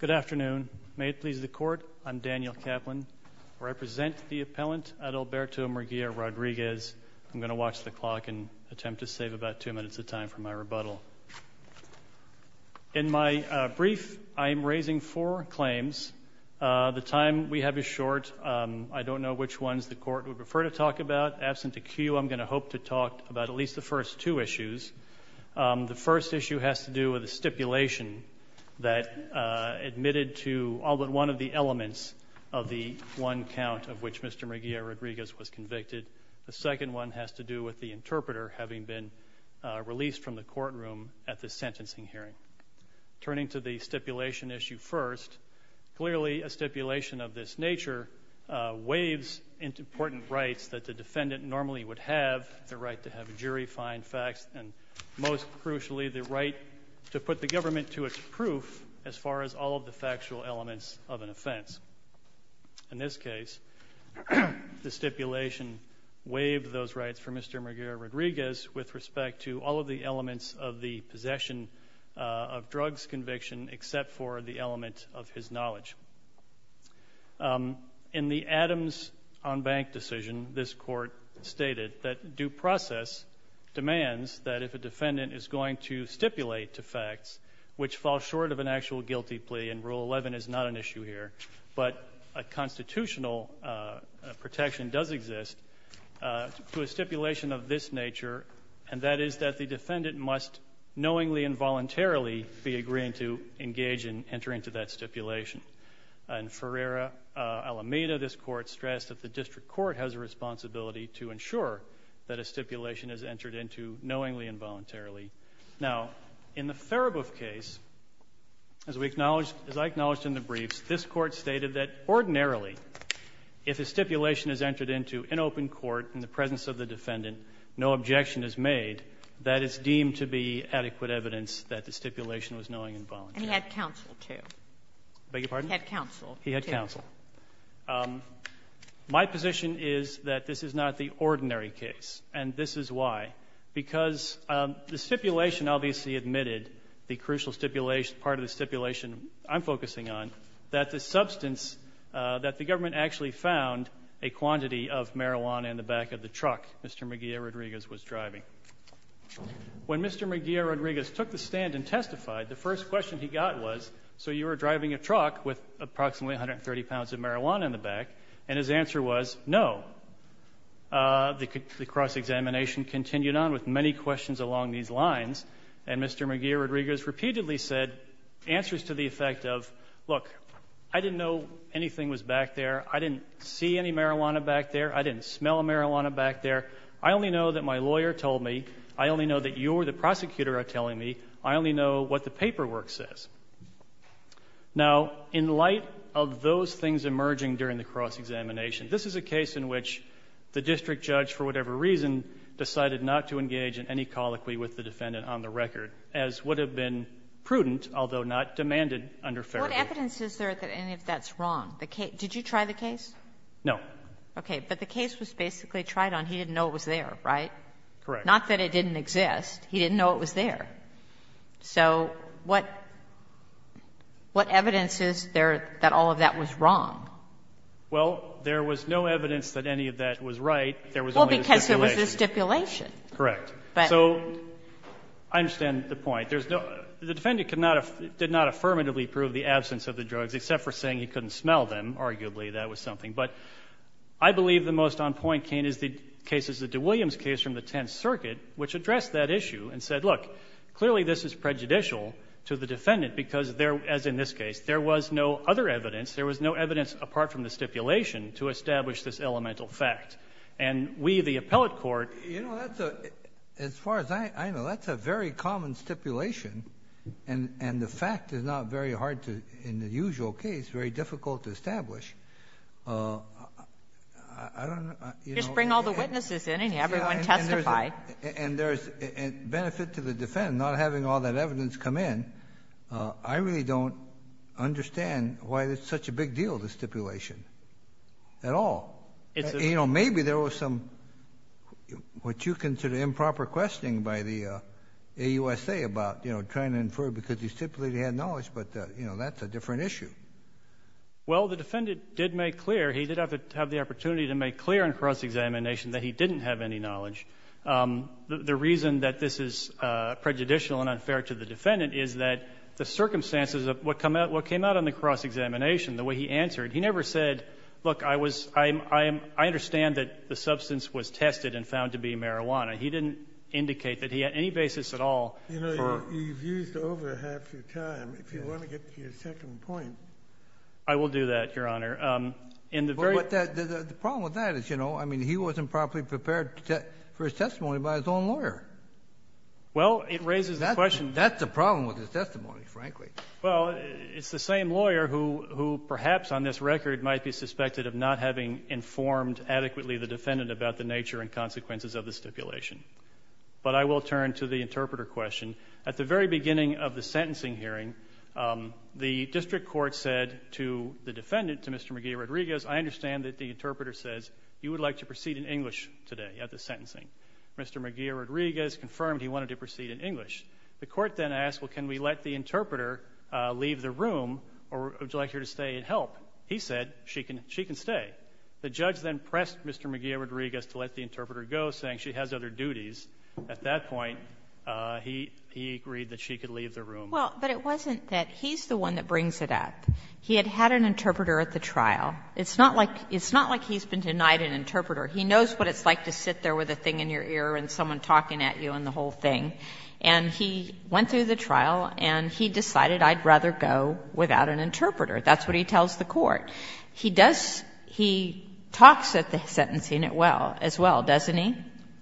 Good afternoon. May it please the Court, I'm Daniel Kaplan. I represent the appellant, Adalberto Murguia-Rodriguez. I'm going to watch the clock and attempt to save about two minutes of time for my rebuttal. In my brief, I am raising four claims. The time we have is short. I don't know which ones the Court would prefer to talk about. Absent a cue, I'm going to hope to talk about at least the first two issues. The first issue has to do with a stipulation that admitted to all but one of the elements of the one count of which Mr. Murguia-Rodriguez was convicted. The second one has to do with the interpreter having been released from the courtroom at the sentencing hearing. Turning to the stipulation issue first, clearly a stipulation of this nature waves into important rights that the defendant normally would have, the right to have a jury find facts, and most crucially, the right to put the government to its proof as far as all of the factual elements of an offense. In this case, the stipulation waived those rights for Mr. Murguia-Rodriguez with respect to all of the elements of the possession of drugs conviction except for the element of his knowledge. In the Adams-on-Bank decision, this Court stated that due process demands that if a defendant is going to stipulate to facts, which fall short of an actual guilty plea, and Rule 11 is not an issue here, but a constitutional protection does exist, to a stipulation of this nature, and that is that the defendant must knowingly and voluntarily be agreeing to engage in entering into that stipulation. In Ferreira-Alameda, this Court stressed that the district court has a responsibility to ensure that a stipulation is entered into knowingly and voluntarily. Now, in the Therabove case, as I acknowledged in the briefs, this Court stated that ordinarily if a stipulation is entered into in open court in the presence of the defendant, no objection is made, that it's deemed to be adequate evidence that the stipulation was knowingly and voluntarily. And he had counsel, too. I beg your pardon? He had counsel, too. He had counsel. My position is that this is not the ordinary case, and this is why. Because the stipulation obviously admitted, the crucial stipulation, part of the stipulation I'm focusing on, that the substance, that the government actually found a quantity of marijuana in the back of the truck Mr. Maguire-Rodriguez was driving. When Mr. Maguire-Rodriguez took the stand and testified, the first question he got was, so you were driving a truck with approximately 130 pounds of marijuana in the back, and his answer was no. The cross-examination continued on with many questions along these lines, and Mr. Maguire-Rodriguez repeatedly said answers to the effect of, look, I didn't know anything was back there. I didn't see any marijuana back there. I didn't smell marijuana back there. I only know that my lawyer told me. I only know that you or the prosecutor are telling me. I only know what the paperwork says. Now, in light of those things emerging during the cross-examination, this is a case in which the district judge, for whatever reason, decided not to engage in any colloquy with the defendant on the record, as would have been prudent, although not demanded under Federal law. What evidence is there that any of that's wrong? Did you try the case? No. Okay. But the case was basically tried on. He didn't know it was there, right? Correct. Not that it didn't exist. He didn't know it was there. So what evidence is there that all of that was wrong? Well, there was no evidence that any of that was right. There was only a stipulation. Well, because there was a stipulation. Correct. So I understand the point. There's no – the defendant did not affirmatively prove the absence of the drugs, except for saying he couldn't smell them. Arguably, that was something. But I believe the most on point case is the DeWilliams case from the Tenth Circuit, which addressed that issue and said, look, clearly this is prejudicial to the defendant because there, as in this case, there was no other evidence. There was no evidence apart from the stipulation to establish this elemental fact. And we, the appellate court — You know, that's a – as far as I know, that's a very common stipulation, and the fact is not very hard to – in the usual case, very difficult to establish. I don't know. Just bring all the witnesses in and have everyone testify. And there's benefit to the defendant not having all that evidence come in. I really don't understand why it's such a big deal, the stipulation, at all. You know, maybe there was some, what you consider improper, questioning by the AUSA about, you know, trying to infer because the stipulator had knowledge, but, you know, that's a different issue. Well, the defendant did make clear – he did have the opportunity to make clear in cross-examination that he didn't have any knowledge. The reason that this is prejudicial and unfair to the defendant is that the circumstances of what came out on the cross-examination, the way he answered, he never said, look, I was – I understand that the substance was tested and found to be marijuana. He didn't indicate that he had any basis at all for – You know, you've used over half your time. If you want to get to your second point. I will do that, Your Honor. In the very – The problem with that is, you know, I mean, he wasn't properly prepared for his testimony by his own lawyer. Well, it raises the question – That's the problem with his testimony, frankly. Well, it's the same lawyer who perhaps on this record might be suspected of not having informed adequately the defendant about the nature and consequences of the stipulation. But I will turn to the interpreter question. At the very beginning of the sentencing hearing, the district court said to the defendant, to Mr. Miguel Rodriguez, I understand that the interpreter says you would like to proceed in English today at the sentencing. Mr. Miguel Rodriguez confirmed he wanted to proceed in English. The court then asked, well, can we let the interpreter leave the room, or would you like her to stay and help? He said she can stay. The judge then pressed Mr. Miguel Rodriguez to let the interpreter go, saying she has other duties. At that point, he agreed that she could leave the room. Well, but it wasn't that he's the one that brings it up. He had had an interpreter at the trial. It's not like he's been denied an interpreter. He knows what it's like to sit there with a thing in your ear and someone talking at you and the whole thing. And he went through the trial, and he decided I'd rather go without an interpreter. That's what he tells the court. He does – he talks at the sentencing as well, doesn't he?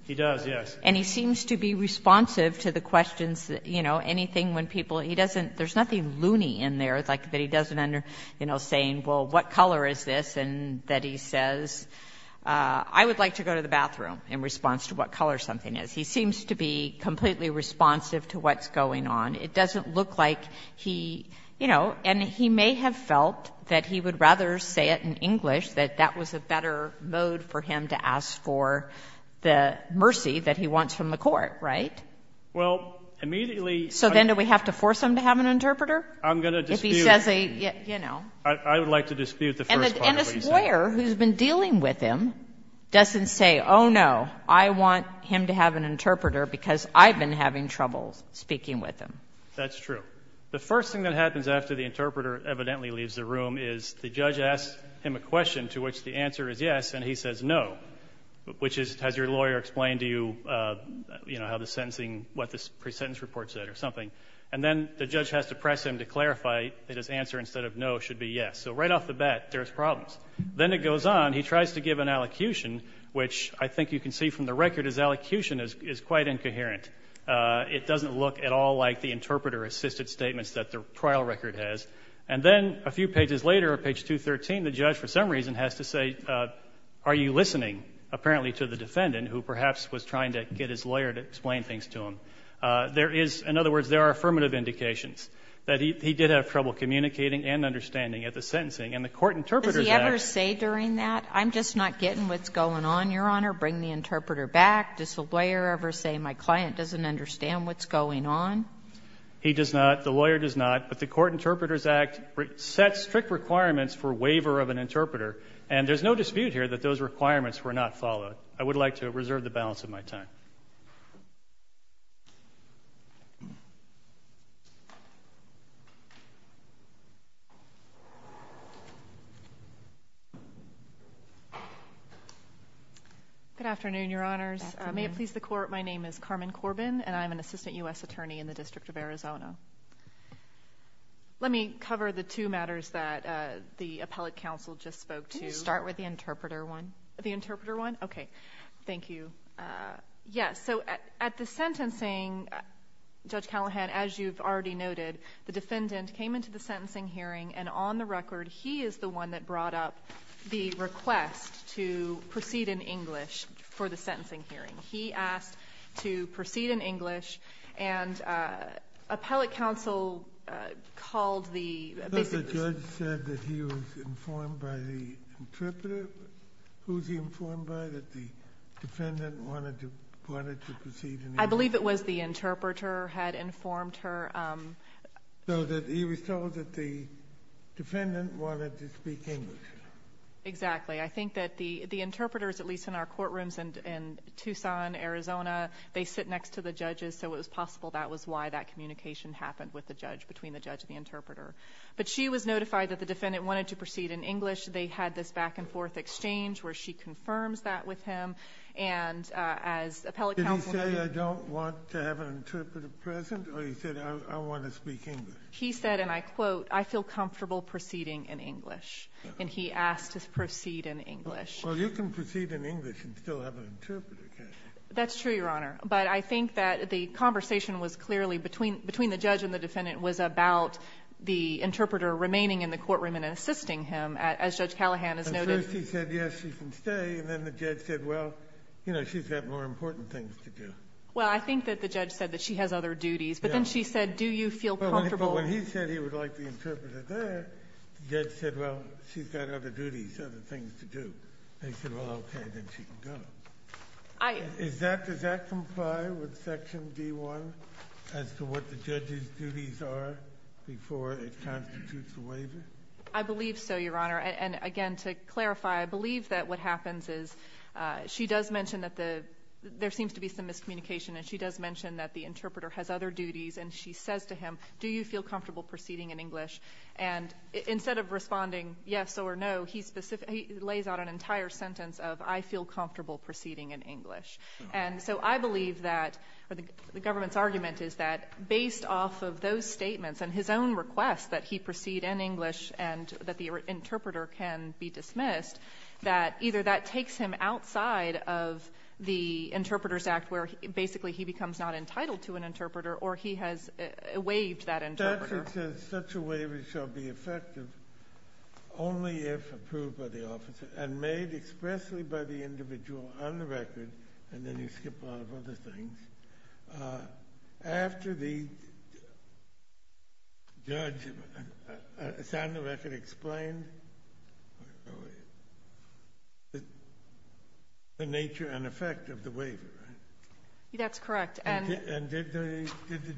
He does, yes. And he seems to be responsive to the questions, you know, anything when people – he doesn't – there's nothing loony in there, like that he doesn't end up, you know, saying, well, what color is this, and that he says, I would like to go to the bathroom, in response to what color something is. He seems to be completely responsive to what's going on. It doesn't look like he, you know – and he may have felt that he would rather say it in English, that that was a better mode for him to ask for the mercy that he wants from the court, right? Well, immediately – So then do we have to force him to have an interpreter? I'm going to dispute – If he says a, you know – I would like to dispute the first part of what you said. And a lawyer who's been dealing with him doesn't say, oh, no, I want him to have an interpreter because I've been having trouble speaking with him. That's true. The first thing that happens after the interpreter evidently leaves the room is the lawyer explain to you, you know, how the sentencing – what the presentence report said or something. And then the judge has to press him to clarify that his answer, instead of no, should be yes. So right off the bat, there's problems. Then it goes on. He tries to give an allocution, which I think you can see from the record, his allocution is quite incoherent. It doesn't look at all like the interpreter-assisted statements that the trial record has. And then a few pages later, on page 213, the judge, for some reason, has to say, are you listening, apparently, to the defendant, who perhaps was trying to get his lawyer to explain things to him? There is – in other words, there are affirmative indications that he did have trouble communicating and understanding at the sentencing. And the Court Interpreters Act – Does he ever say during that, I'm just not getting what's going on, Your Honor, bring the interpreter back? Does the lawyer ever say, my client doesn't understand what's going on? He does not. The lawyer does not. But the Court Interpreters Act sets strict requirements for waiver of an interpreter. And there's no dispute here that those requirements were not followed. I would like to reserve the balance of my time. Good afternoon, Your Honors. May it please the Court, my name is Carmen Corbin, and I'm an Assistant U.S. Attorney in the District of Arizona. Let me cover the two matters that the appellate counsel just spoke to. Can you start with the interpreter one? The interpreter one? Okay. Thank you. Yes, so at the sentencing, Judge Callahan, as you've already noted, the defendant came into the sentencing hearing, and on the record, he is the one that brought up the request to proceed in English for the sentencing hearing. He asked to proceed in English, and appellate counsel called the... So the judge said that he was informed by the interpreter? Who was he informed by that the defendant wanted to proceed in English? I believe it was the interpreter had informed her. So that he was told that the defendant wanted to speak English? Exactly. I think that the interpreters, at least in our courtrooms in Tucson, Arizona, they sit next to the judges, so it was possible that was why that communication happened with the judge, between the judge and the interpreter. But she was notified that the defendant wanted to proceed in English. They had this back-and-forth exchange where she confirms that with him, and as appellate counsel... Did he say, I don't want to have an interpreter present, or he said, I want to speak English? He said, and I quote, I feel comfortable proceeding in English. And he asked to proceed in English. Well, you can proceed in English and still have an interpreter, can't you? That's true, Your Honor. But I think that the conversation was clearly, between the judge and the defendant, was about the interpreter remaining in the courtroom and assisting him, as Judge Callahan has noted. But first he said, yes, she can stay, and then the judge said, well, you know, she's got more important things to do. Well, I think that the judge said that she has other duties. But then she said, do you feel comfortable... She's got other duties, other things to do. They said, well, okay, then she can go. Does that comply with Section D-1 as to what the judge's duties are before it constitutes a waiver? I believe so, Your Honor. And, again, to clarify, I believe that what happens is she does mention that there seems to be some miscommunication, and she does mention that the interpreter has other duties, and she says to him, do you feel comfortable proceeding in English? And instead of responding yes or no, he lays out an entire sentence of I feel comfortable proceeding in English. And so I believe that the government's argument is that based off of those statements and his own request that he proceed in English and that the interpreter can be dismissed, that either that takes him outside of the Interpreter's Act, where basically he becomes not entitled to an interpreter, or he has waived that interpreter. The record says such a waiver shall be effective only if approved by the officer and made expressly by the individual on the record, and then you skip a lot of other things. After the judge signed the record, explained the nature and effect of the waiver, right? That's correct. And did the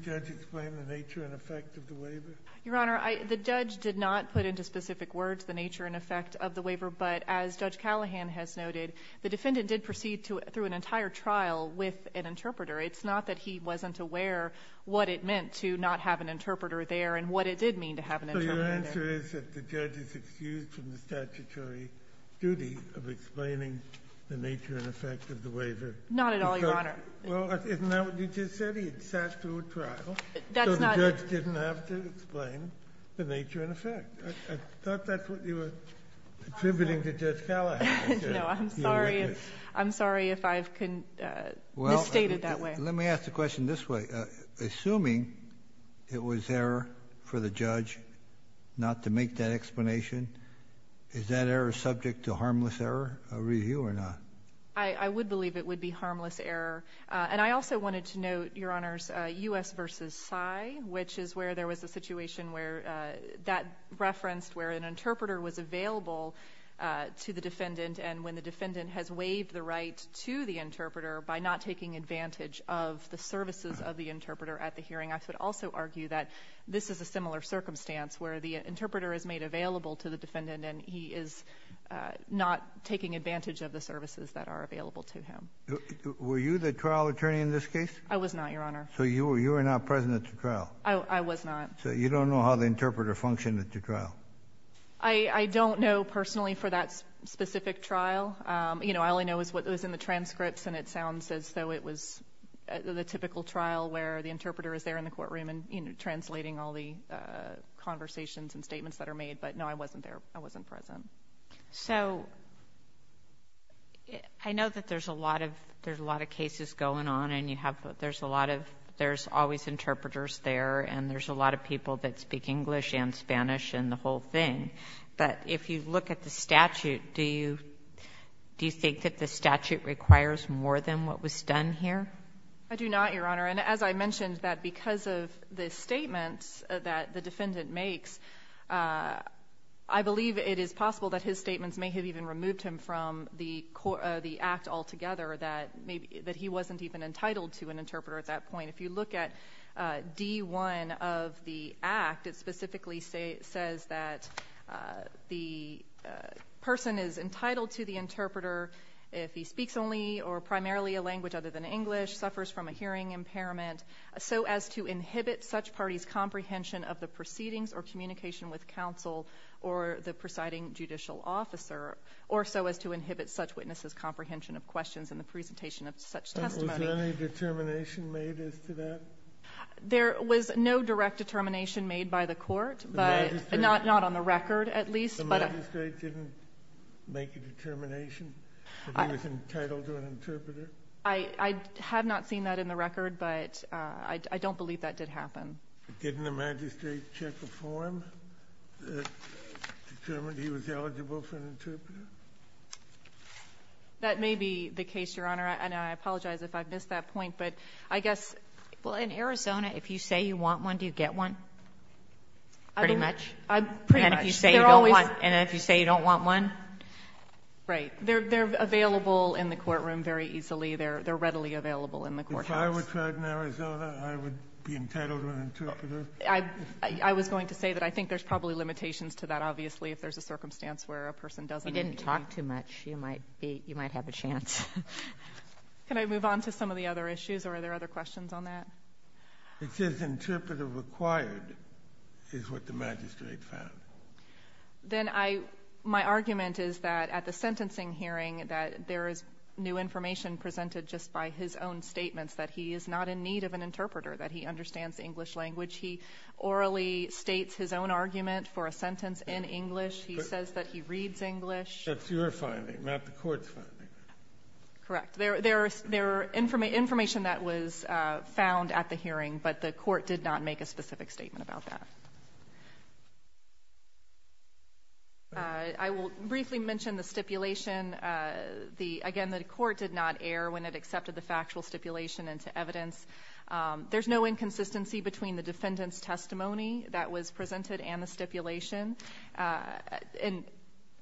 judge explain the nature and effect of the waiver? Your Honor, the judge did not put into specific words the nature and effect of the waiver, but as Judge Callahan has noted, the defendant did proceed through an entire trial with an interpreter. It's not that he wasn't aware what it meant to not have an interpreter there and what it did mean to have an interpreter there. So your answer is that the judge is excused from the statutory duty of explaining the nature and effect of the waiver? Not at all, Your Honor. Well, isn't that what you just said? He sat through a trial, so the judge didn't have to explain the nature and effect. I thought that's what you were attributing to Judge Callahan. No, I'm sorry if I've misstated that way. Let me ask the question this way. Assuming it was error for the judge not to make that explanation, is that error subject to harmless error review or not? I would believe it would be harmless error. And I also wanted to note, Your Honors, U.S. v. PSY, which is where there was a situation where that referenced where an interpreter was available to the defendant, and when the defendant has waived the right to the interpreter by not taking advantage of the services of the interpreter at the hearing, the interpreter is made available to the defendant, and he is not taking advantage of the services that are available to him. Were you the trial attorney in this case? I was not, Your Honor. So you were not present at the trial? I was not. So you don't know how the interpreter functioned at the trial? I don't know personally for that specific trial. You know, all I know is what was in the transcripts, and it sounds as though it was the typical trial where the interpreter is there in the courtroom and, you know, translating all the conversations and statements that are made. But, no, I wasn't there. I wasn't present. So I know that there's a lot of cases going on, and there's always interpreters there, and there's a lot of people that speak English and Spanish and the whole thing. But if you look at the statute, do you think that the statute requires more than what was done here? I do not, Your Honor. And as I mentioned, that because of the statements that the defendant makes, I believe it is possible that his statements may have even removed him from the act altogether that he wasn't even entitled to an interpreter at that point. If you look at D-1 of the act, it specifically says that the person is entitled to the interpreter if he speaks only or primarily a language other than English, suffers from a hearing impairment, so as to inhibit such parties' comprehension of the proceedings or communication with counsel or the presiding judicial officer, or so as to inhibit such witnesses' comprehension of questions in the presentation of such testimony. Was there any determination made as to that? There was no direct determination made by the court. The magistrate? Not on the record, at least. The magistrate didn't make a determination that he was entitled to an interpreter? I have not seen that in the record, but I don't believe that did happen. Didn't the magistrate check a form that determined he was eligible for an interpreter? That may be the case, Your Honor. And I apologize if I've missed that point. But I guess, well, in Arizona, if you say you want one, do you get one? Pretty much. And if you say you don't want one? Right. They're available in the courtroom very easily. They're readily available in the courthouse. If I were tried in Arizona, I would be entitled to an interpreter? I was going to say that I think there's probably limitations to that, obviously, if there's a circumstance where a person doesn't need to be. You didn't talk too much. You might have a chance. Can I move on to some of the other issues, or are there other questions on that? It says interpreter required is what the magistrate found. Then my argument is that at the sentencing hearing, that there is new information presented just by his own statements, that he is not in need of an interpreter, that he understands English language. He orally states his own argument for a sentence in English. He says that he reads English. That's your finding, not the court's finding. Correct. There is information that was found at the hearing, but the court did not make a specific statement about that. I will briefly mention the stipulation. Again, the court did not err when it accepted the factual stipulation into evidence. There's no inconsistency between the defendant's testimony that was presented and the stipulation.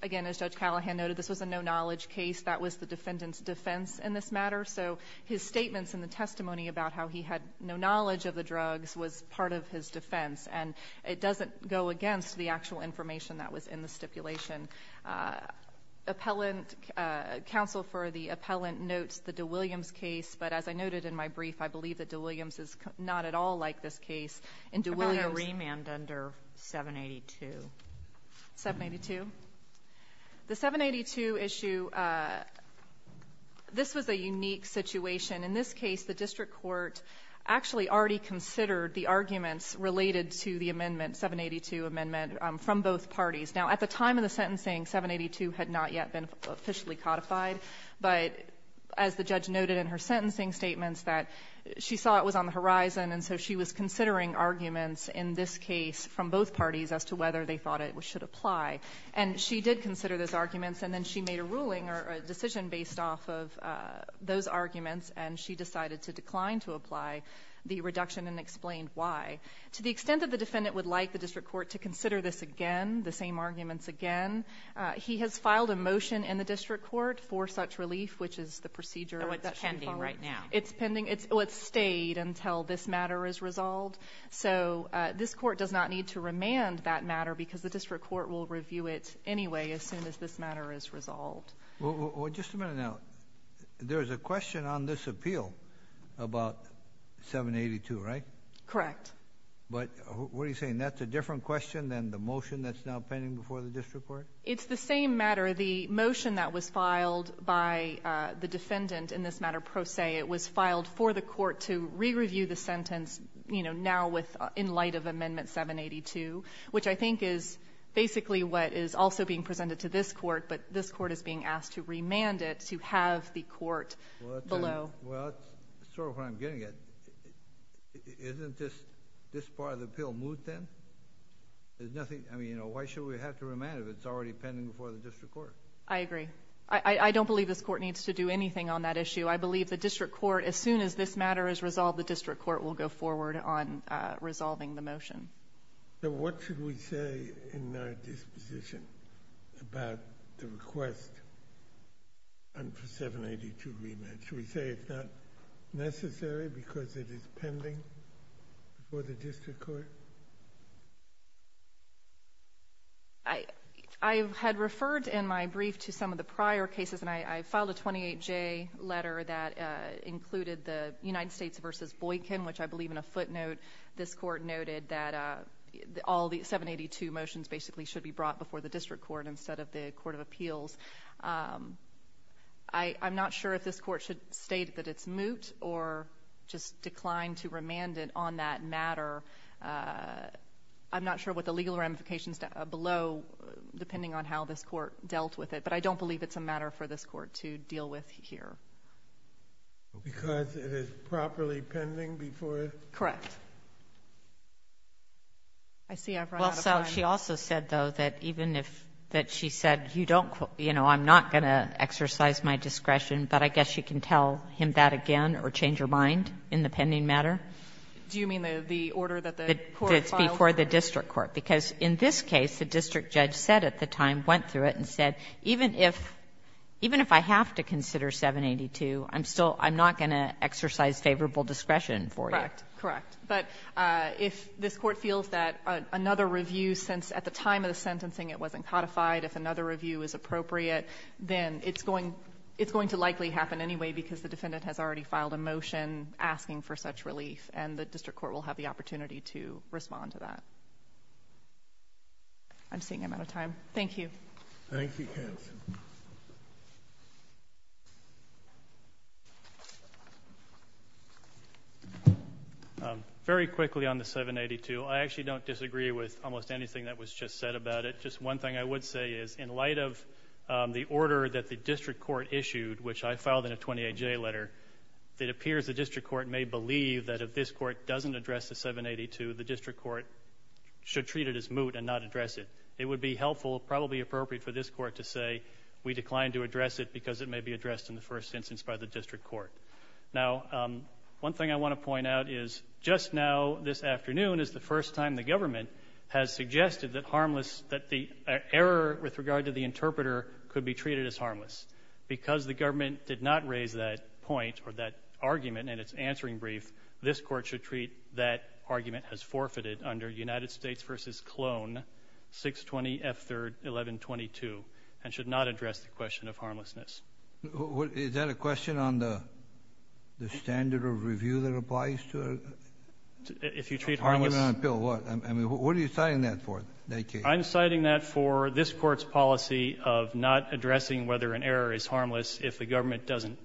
Again, as Judge Callahan noted, this was a no-knowledge case. That was the defendant's defense in this matter. So his statements in the testimony about how he had no knowledge of the drugs was part of his defense, and it doesn't go against the actual information that was in the stipulation. Counsel for the appellant notes the DeWilliams case, but as I noted in my brief, I believe that DeWilliams is not at all like this case. How about a remand under 782? 782? The 782 issue, this was a unique situation. In this case, the district court actually already considered the arguments related to the amendment, 782 amendment, from both parties. Now, at the time of the sentencing, 782 had not yet been officially codified, but as the judge noted in her sentencing statements, that she saw it was on the horizon, and so she was considering arguments in this case from both parties as to whether they thought it should apply. And she did consider those arguments, and then she made a ruling or a decision based off of those arguments, and she decided to decline to apply the reduction and explained why. To the extent that the defendant would like the district court to consider this again, the same arguments again, he has filed a motion in the district court for such relief, which is the procedure that should follow. It's pending right now. It's pending. It's stayed until this matter is resolved. So this court does not need to remand that matter because the district court will review it anyway as soon as this matter is resolved. Well, just a minute now. There's a question on this appeal about 782, right? Correct. But what are you saying? That's a different question than the motion that's now pending before the district court? It's the same matter. The motion that was filed by the defendant in this matter pro se, it was filed for the court to re-review the sentence now in light of Amendment 782, which I think is basically what is also being presented to this court, but this court is being asked to remand it to have the court below. Well, that's sort of what I'm getting at. Isn't this part of the appeal moot then? I mean, why should we have to remand it if it's already pending before the district court? I agree. I don't believe this court needs to do anything on that issue. I believe the district court, as soon as this matter is resolved, the district court will go forward on resolving the motion. What should we say in our disposition about the request for 782 remand? Should we say it's not necessary because it is pending before the district court? I had referred in my brief to some of the prior cases, and I filed a 28-J letter that included the United States v. Boykin, which I believe in a footnote this court noted that all the 782 motions basically should be brought before the district court instead of the court of appeals. I'm not sure if this court should state that it's moot or just decline to remand it on that matter. I'm not sure what the legal ramifications below, depending on how this court dealt with it, but I don't believe it's a matter for this court to deal with here. Because it is properly pending before it? Correct. I see I've run out of time. Well, so she also said, though, that even if she said, you know, I'm not going to exercise my discretion, but I guess you can tell him that again or change your mind in the pending matter? Do you mean the order that the court filed? That's before the district court. Because in this case, the district judge said at the time, went through it and said, even if, even if I have to consider 782, I'm still, I'm not going to exercise favorable discretion for you. Correct. Correct. But if this court feels that another review, since at the time of the sentencing it wasn't codified, if another review is appropriate, then it's going, it's going to likely happen anyway, because the defendant has already filed a motion asking for such relief. And the district court will have the opportunity to respond to that. I'm seeing I'm out of time. Thank you. Thank you, counsel. Very quickly on the 782, I actually don't disagree with almost anything that was just said about it. Just one thing I would say is, in light of the order that the district court issued, which I filed in a 28-J letter, it appears the district court may believe that if this court doesn't address the 782, the district court should treat it as moot and not address it. It would be helpful, probably appropriate for this court to say, we decline to address it because it may be addressed in the first instance by the district court. Now, one thing I want to point out is, just now this afternoon is the first time the government has suggested that harmless, that the error with regard to the interpreter could be treated as harmless. Because the government did not raise that point or that argument in its answering brief, this court should treat that argument as forfeited under United States v. Cologne, 620F3-1122, and should not address the question of harmlessness. Is that a question on the standard of review that applies to harmless on a pill? What are you citing that for? I'm citing that for this court's policy of not addressing whether an error is harmless if the government doesn't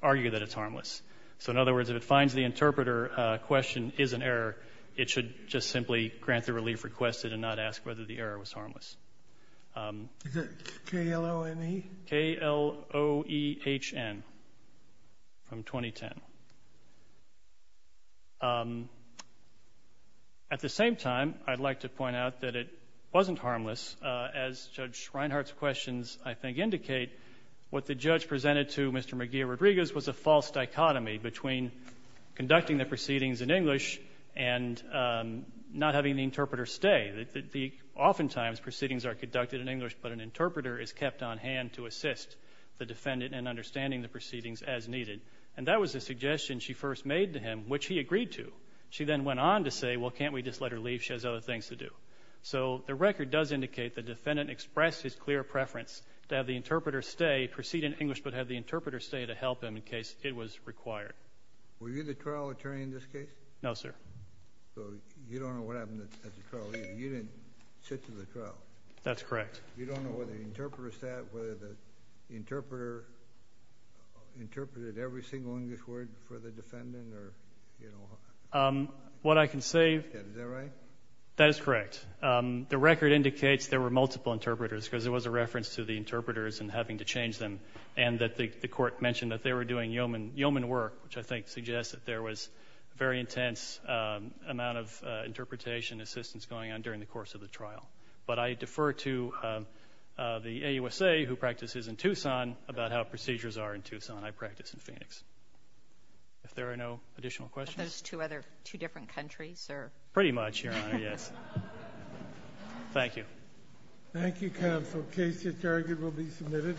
argue that it's harmless. So, in other words, if it finds the interpreter question is an error, it should just simply grant the relief requested and not ask whether the error was harmless. Is it K-L-O-N-E? K-L-O-E-H-N, from 2010. At the same time, I'd like to point out that it wasn't harmless. As Judge Reinhart's questions, I think, indicate, what the judge presented to Mr. McGeer-Rodriguez was a false dichotomy between conducting the proceedings in English and not having the interpreter stay. Oftentimes, proceedings are conducted in English, but an interpreter is kept on hand to assist the defendant in understanding the proceedings as needed. And that was the suggestion she first made to him, which he agreed to. She then went on to say, well, can't we just let her leave? She has other things to do. So the record does indicate the defendant expressed his clear preference to have the interpreter stay, proceed in English, but have the interpreter stay to help him in case it was required. Were you the trial attorney in this case? No, sir. So you don't know what happened at the trial. You didn't sit through the trial. That's correct. You don't know whether the interpreter interpreted every single English word for the defendant? What I can say – Is that right? That is correct. The record indicates there were multiple interpreters, because there was a reference to the interpreters and having to change them, and that the court mentioned that they were doing yeoman work, which I think suggests that there was a very intense amount of interpretation and assistance going on during the course of the trial. But I defer to the AUSA, who practices in Tucson, about how procedures are in Tucson. I practice in Phoenix. If there are no additional questions. Are those two different countries? Pretty much, Your Honor, yes. Thank you, counsel. The case at target will be submitted.